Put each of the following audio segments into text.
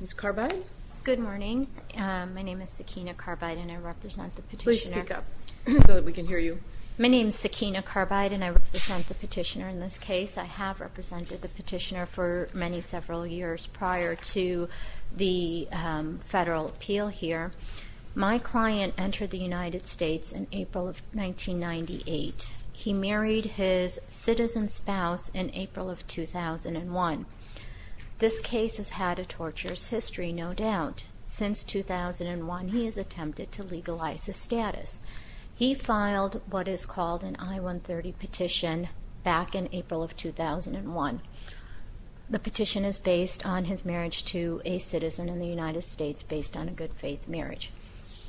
Ms. Carbide? Good morning. My name is Sakina Carbide and I represent the petitioner. Please speak up so that we can hear you. My name is Sakina Carbide and I represent the petitioner in this case. I have represented the petitioner for many several years prior to the federal appeal here. My client entered the United States in April of 1998. He married his citizen spouse in April of 2001. This case has had a torturous history, no doubt. Since 2001, he has attempted to legalize his status. He filed what is called an I-130 petition back in April of 2001. The petition is based on his marriage to a citizen in the United States based on a good-faith marriage.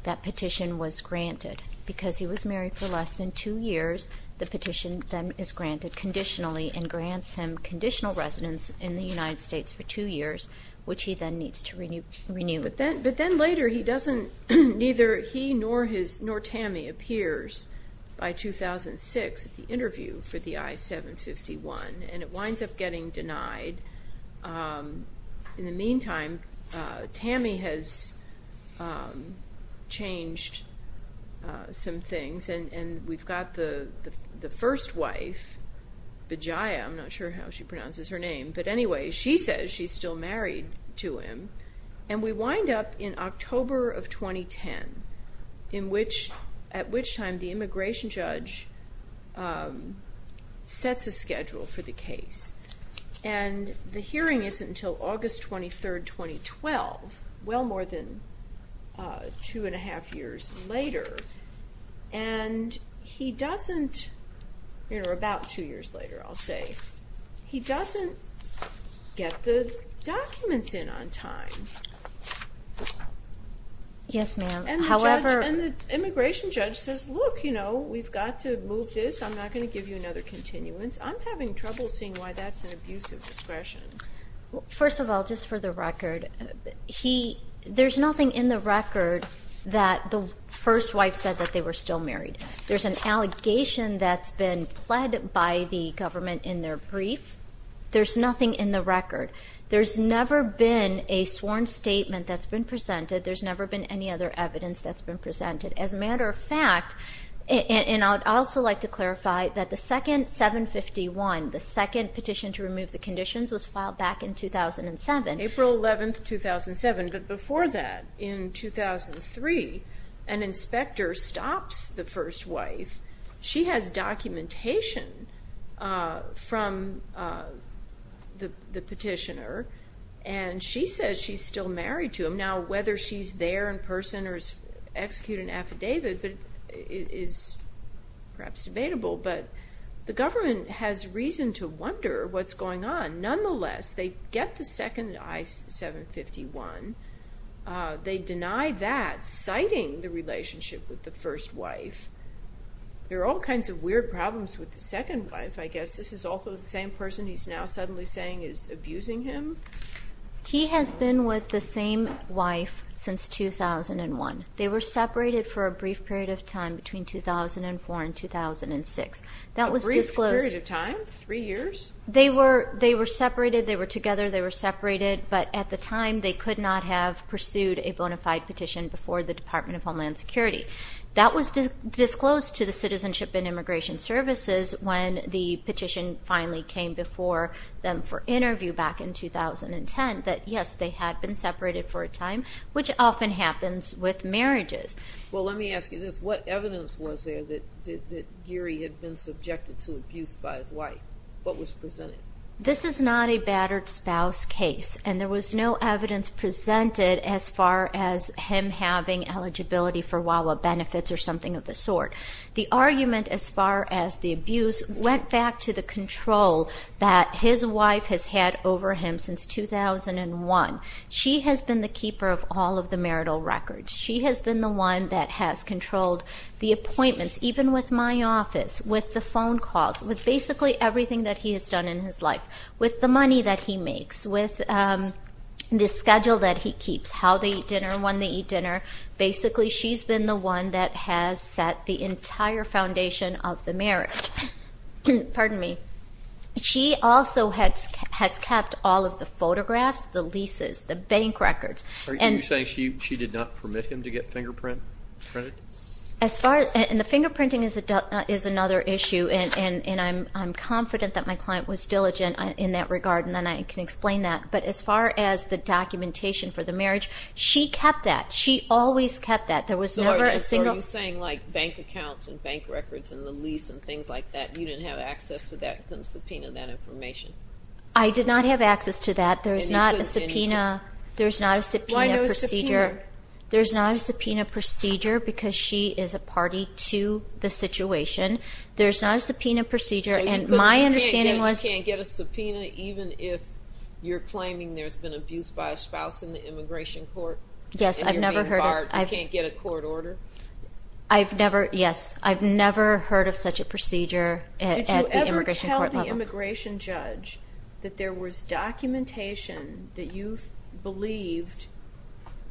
That petition was granted. Because he was married for less than two years, the petition then is granted conditionally and grants him conditional residence in the United States for two years, which he then needs to renew. But then later, he doesn't, neither he nor his, nor Tammy appears by 2006 at the interview for the I-751 and it winds up getting denied. In the meantime, Tammy has changed some things and we've got the first wife, Bajaya, I'm not sure how she pronounces her name, but anyway, she says she's still married to him and we wind up in October of 2010, at which time the immigration judge sets a schedule for the case. The hearing isn't until August 23, 2012, well more than two and a half years later. He doesn't, or about two years later, I'll say, he doesn't get the documents in on time. Yes, ma'am, however... And the immigration judge says, look, we've got to move this, I'm not going to give you another continuance. I'm having trouble seeing why that's an abuse of discretion. First of all, just for the record, there's nothing in the record that the first wife said that they were still married. There's an allegation that's been pled by the government in their brief. There's nothing in the record. There's never been a sworn statement that's been presented. There's never been any other evidence that's been presented. As a matter of fact, and I'd also like to clarify that the second 751, the second petition to remove the conditions, was filed back in 2007. April 11, 2007, but before that, in 2003, an inspector stops the first wife, she has documentation from the petitioner, and she says she's still married to him. And now, whether she's there in person or has executed an affidavit is perhaps debatable, but the government has reason to wonder what's going on. Nonetheless, they get the second I-751. They deny that, citing the relationship with the first wife. There are all kinds of weird problems with the second wife, I guess. This is also the same person he's now suddenly saying is abusing him? He has been with the same wife since 2001. They were separated for a brief period of time between 2004 and 2006. That was disclosed. A brief period of time? Three years? They were separated, they were together, they were separated, but at the time, they could not have pursued a bona fide petition before the Department of Homeland Security. That was disclosed to the Citizenship and Immigration Services when the petition finally came before them for interview back in 2010, that yes, they had been separated for a time, which often happens with marriages. Well, let me ask you this. What evidence was there that Geary had been subjected to abuse by his wife? What was presented? This is not a battered spouse case, and there was no evidence presented as far as him having eligibility for Wawa benefits or something of the sort. The argument as far as the abuse went back to the control that his wife has had over him since 2001. She has been the keeper of all of the marital records. She has been the one that has controlled the appointments, even with my office, with the phone calls, with basically everything that he has done in his life, with the money that he makes, with the schedule that he keeps, how they eat dinner, when they eat dinner. Basically, she's been the one that has set the entire foundation of the marriage. Pardon me. She also has kept all of the photographs, the leases, the bank records. Are you saying she did not permit him to get fingerprinted? As far as, and the fingerprinting is another issue, and I'm confident that my client was diligent in that regard, and then I can explain that. But as far as the documentation for the marriage, she kept that. She always kept that. There was never a single- So are you saying like bank accounts and bank records and the lease and things like that, you didn't have access to that and couldn't subpoena that information? I did not have access to that. There's not a subpoena procedure. And he couldn't do anything? Why not a subpoena? There's not a subpoena procedure because she is a party to the situation. There's not a subpoena procedure, and my understanding was- You can't get a subpoena even if you're claiming there's been abuse by a spouse in the immigration court? Yes, I've never heard of- If you're being barred, you can't get a court order? I've never, yes. I've never heard of such a procedure at the immigration court level. Did you ever tell the immigration judge that there was documentation that you believed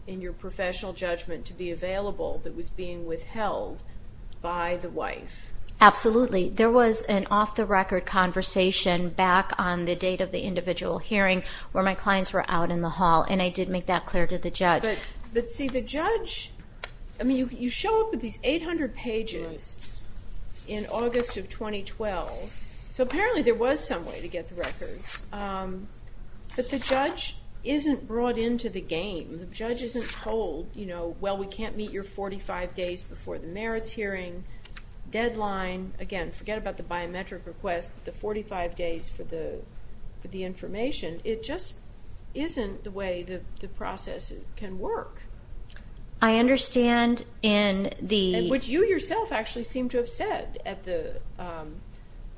in your professional judgment to be available that was being withheld by the wife? Absolutely. There was an off-the-record conversation back on the date of the individual hearing where my clients were out in the hall, and I did make that clear to the judge. But see, the judge- I mean, you show up with these 800 pages in August of 2012, so apparently there was some way to get the records, but the judge isn't brought into the game. The judge isn't told, you know, well, we can't meet your 45 days before the merits hearing deadline. Again, forget about the biometric request, but the 45 days for the information. It just isn't the way the process can work. I understand in the- Which you yourself actually seem to have said at the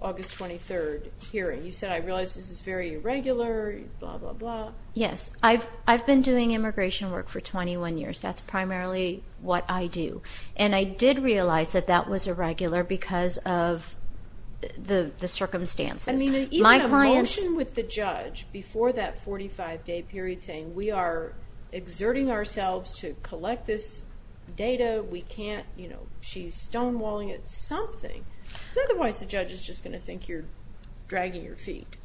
August 23rd hearing. You said, I realize this is very irregular, blah, blah, blah. Yes. I've been doing immigration work for 21 years. That's primarily what I do. And I did realize that that was irregular because of the circumstances. I mean, even a motion with the judge before that 45 day period saying, we are exerting ourselves to collect this data, we can't, you know, she's stonewalling it, something. Because otherwise the judge is just going to think you're dragging your feet.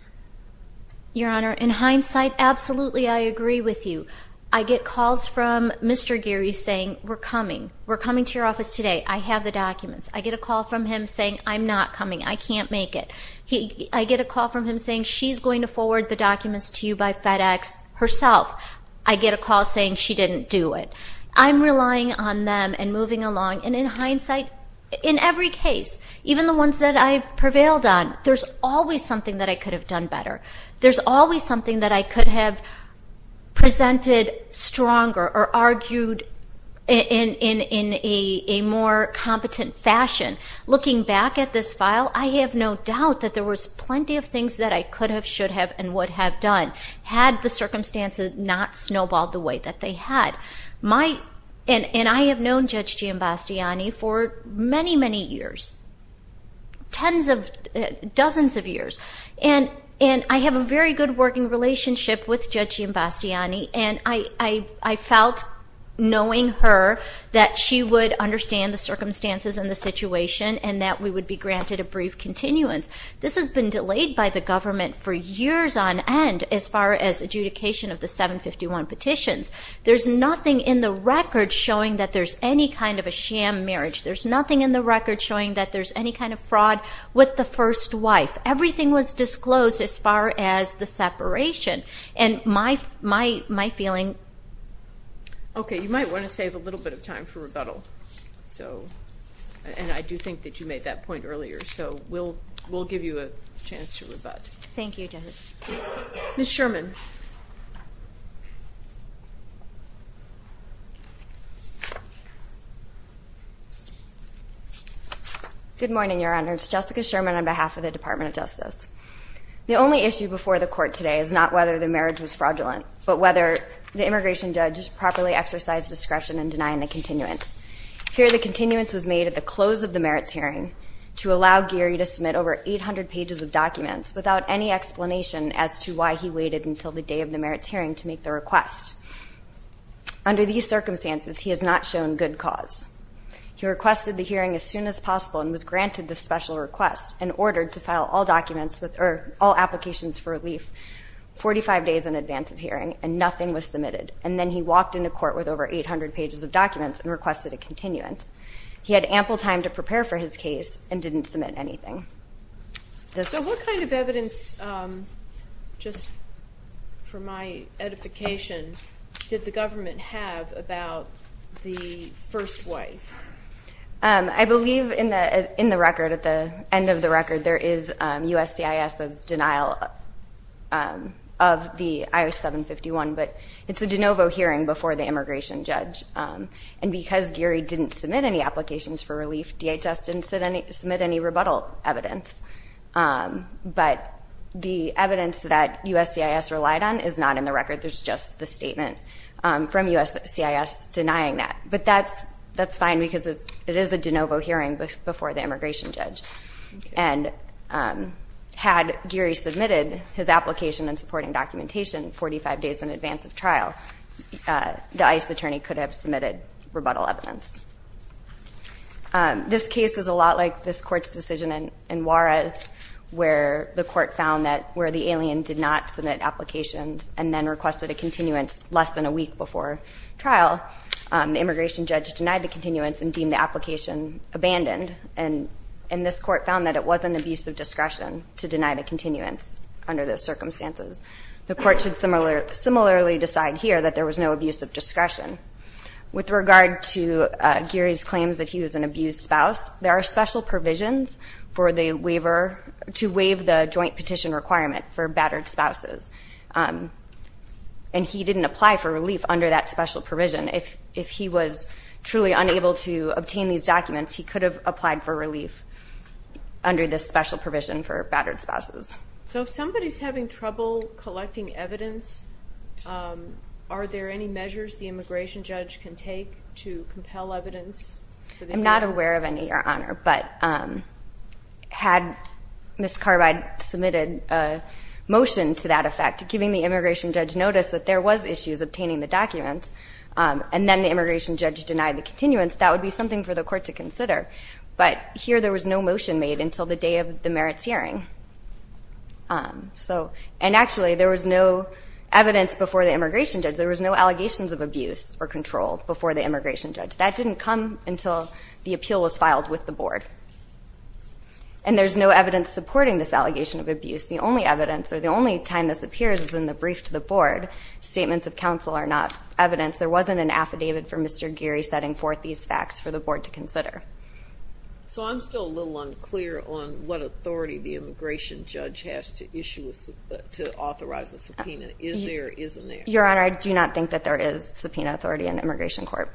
Your Honor, in hindsight, absolutely I agree with you. I get calls from Mr. Geary saying, we're coming. We're coming to your office today. I have the documents. I get a call from him saying, I'm not coming. I can't make it. I get a call from him saying, she's going to forward the documents to you by FedEx herself. I get a call saying, she didn't do it. I'm relying on them and moving along. And in hindsight, in every case, even the ones that I've prevailed on, there's always something that I could have done better. There's always something that I could have presented stronger or argued in a more competent fashion. Looking back at this file, I have no doubt that there was plenty of things that I could have, should have, and would have done had the circumstances not snowballed the way that they had. And I have known Judge Giambastiani for many, many years, tens of, dozens of years. And I have a very good working relationship with Judge Giambastiani, and I felt knowing her that she would understand the circumstances and the situation, and that we would be granted a brief continuance. This has been delayed by the government for years on end, as far as adjudication of the 751 petitions. There's nothing in the record showing that there's any kind of a sham marriage. There's nothing in the record showing that there's any kind of fraud with the first wife. Everything was disclosed as far as the separation. And my feeling... Okay, you might want to save a little bit of time for rebuttal. So, and I do think that you made that point earlier. So we'll give you a chance to rebut. Thank you, Judge. Ms. Sherman. Good morning, Your Honor. It's Jessica Sherman on behalf of the Department of Justice. The only issue before the court today is not whether the marriage was fraudulent, but whether the immigration judge properly exercised discretion in denying the continuance. Here the continuance was made at the close of the merits hearing to allow Geary to submit over 800 pages of documents without any explanation as to why he waited until the day of the merits hearing to make the request. Under these circumstances, he has not shown good cause. He requested the hearing as soon as possible and was granted this special request and ordered to file all documents or all applications for relief 45 days in advance of hearing and nothing was submitted. And then he walked into court with over 800 pages of documents and requested a continuance. He had ample time to prepare for his case and didn't submit anything. So what kind of evidence, just for my edification, did the government have about the first wife? I believe in the record, at the end of the record, there is USCIS's denial of the I-751, but it's a de novo hearing before the immigration judge. And because Geary didn't submit any applications for relief, DHS didn't submit any rebuttal evidence. But the evidence that USCIS relied on is not in the record. There's just the statement from USCIS denying that. But that's fine because it is a de novo hearing before the immigration judge. And had Geary submitted his application and supporting documentation 45 days in advance of trial, the ICE attorney could have submitted rebuttal evidence. This case is a lot like this court's decision in Juarez where the court found that where the alien did not submit applications and then requested a continuance less than a week before trial, the immigration judge denied the continuance and deemed the application abandoned. And this court found that it wasn't an abuse of discretion to deny the continuance under those circumstances. The court should similarly decide here that there was no abuse of discretion. With regard to Geary's claims that he was an abused spouse, there are special provisions for the waiver to waive the joint petition requirement for battered spouses. And he didn't apply for relief under that special provision. If he was truly unable to obtain these documents, he could have applied for relief under this special provision for battered spouses. So if somebody's having trouble collecting evidence, are there any measures the immigration judge can take to compel evidence? I'm not aware of any, Your Honor. But had Ms. Carbide submitted a motion to that effect, giving the immigration judge notice that there was issues obtaining the documents and then the immigration judge denied the continuance, that would be something for the court to consider. But here there was no motion made until the day of the merits hearing. And actually, there was no evidence before the immigration judge. There was no allegations of abuse or control before the immigration judge. That didn't come until the appeal was filed with the board. And there's no evidence supporting this allegation of abuse. The only evidence, or the only time this appears is in the brief to the board. Statements of counsel are not evidence. There wasn't an affidavit for Mr. Geary setting forth these facts for the board to consider. So I'm still a little unclear on what authority the immigration judge has to issue, to authorize a subpoena. Is there or isn't there? Your Honor, I do not think that there is subpoena authority in the Immigration Court.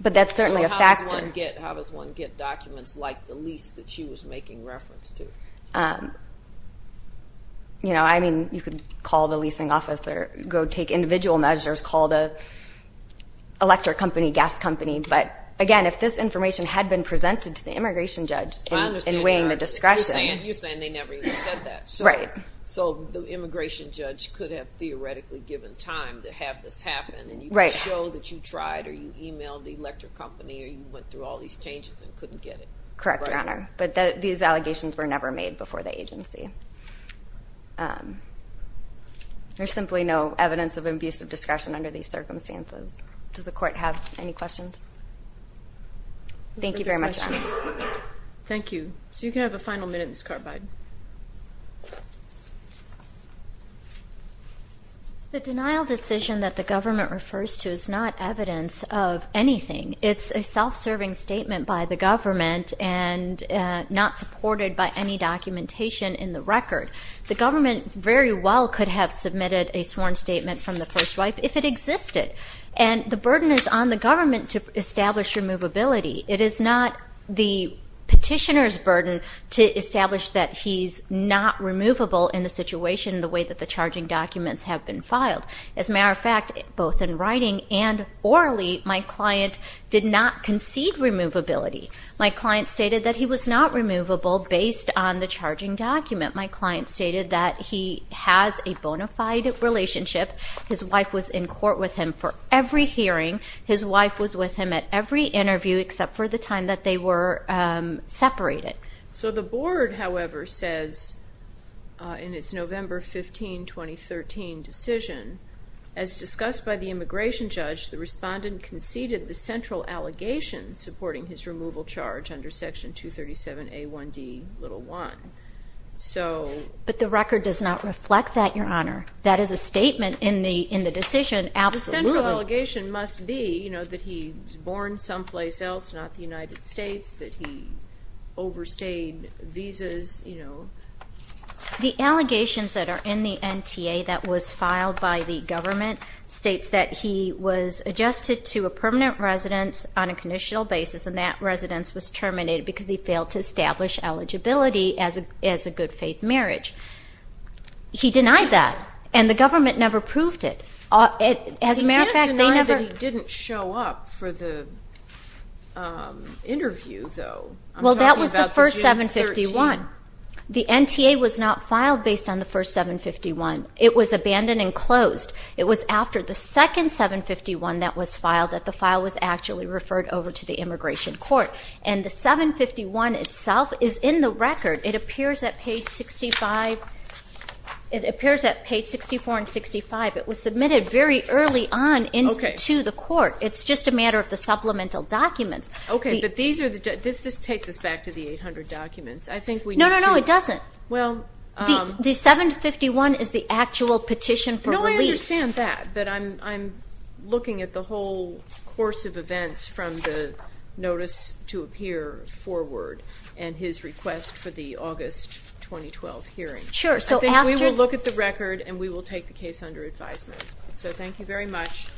But that's certainly a factor. So how does one get documents like the lease that she was making reference to? You know, I mean, you could call the leasing officer, go take individual measures, call the electric company, gas company. But again, if this information had been presented to the immigration judge in weighing the discretion. I understand. You're saying they never even said that. Right. So the immigration judge could have theoretically given time to have this happen, and you could show that you tried, or you emailed the electric company, or you went through all these changes and couldn't get it. Correct, Your Honor. But these allegations were never made before the agency. There's simply no evidence of abusive discretion under these circumstances. Does the court have any questions? Thank you very much, Your Honor. Thank you. So you can have a final minute in this court, Biden. The denial decision that the government refers to is not evidence of anything. It's a self-serving statement by the government and not supported by any documentation in the record. The government very well could have submitted a sworn statement from the first wife if it existed. And the burden is on the government to establish removability. It is not the petitioner's burden to establish that he's not removable in the situation the way that the charging documents have been filed. As a matter of fact, both in writing and orally, my client did not concede removability. My client stated that he was not removable based on the charging document. My client stated that he has a bona fide relationship. His wife was in court with him for every hearing. His wife was with him at every interview except for the time that they were separated. So the board, however, says in its November 15, 2013 decision, as discussed by the immigration judge, the respondent conceded the central allegation supporting his removal charge under Section 237A1D1. But the record does not reflect that, Your Honor. That is a statement in the decision. The central allegation must be that he was born someplace else, not the United States, that he overstayed visas. The allegations that are in the NTA that was filed by the government states that he was adjusted to a permanent residence on a conditional basis, and that residence was terminated because he failed to establish eligibility as a good faith marriage. He denied that, and the government never proved it. As a matter of fact, they never... He didn't deny that he didn't show up for the interview, though. Well, that was the first 751. The NTA was not filed based on the first 751. It was abandoned and closed. It was after the second 751 that was filed that the file was actually referred over to the immigration court. And the 751 itself is in the record. It appears at page 65... It appears at page 64 and 65. It was submitted very early on into the court. It's just a matter of the supplemental documents. Okay, but these are the... This takes us back to the 800 documents. I think we need to... No, no, no, it doesn't. Well... The 751 is the actual petition for relief. No, I understand that, but I'm looking at the whole course of events from the notice to appear forward and his request for the August 2012 hearing. Sure, so after... I think we will look at the record and we will take the case under advisement. So thank you very much.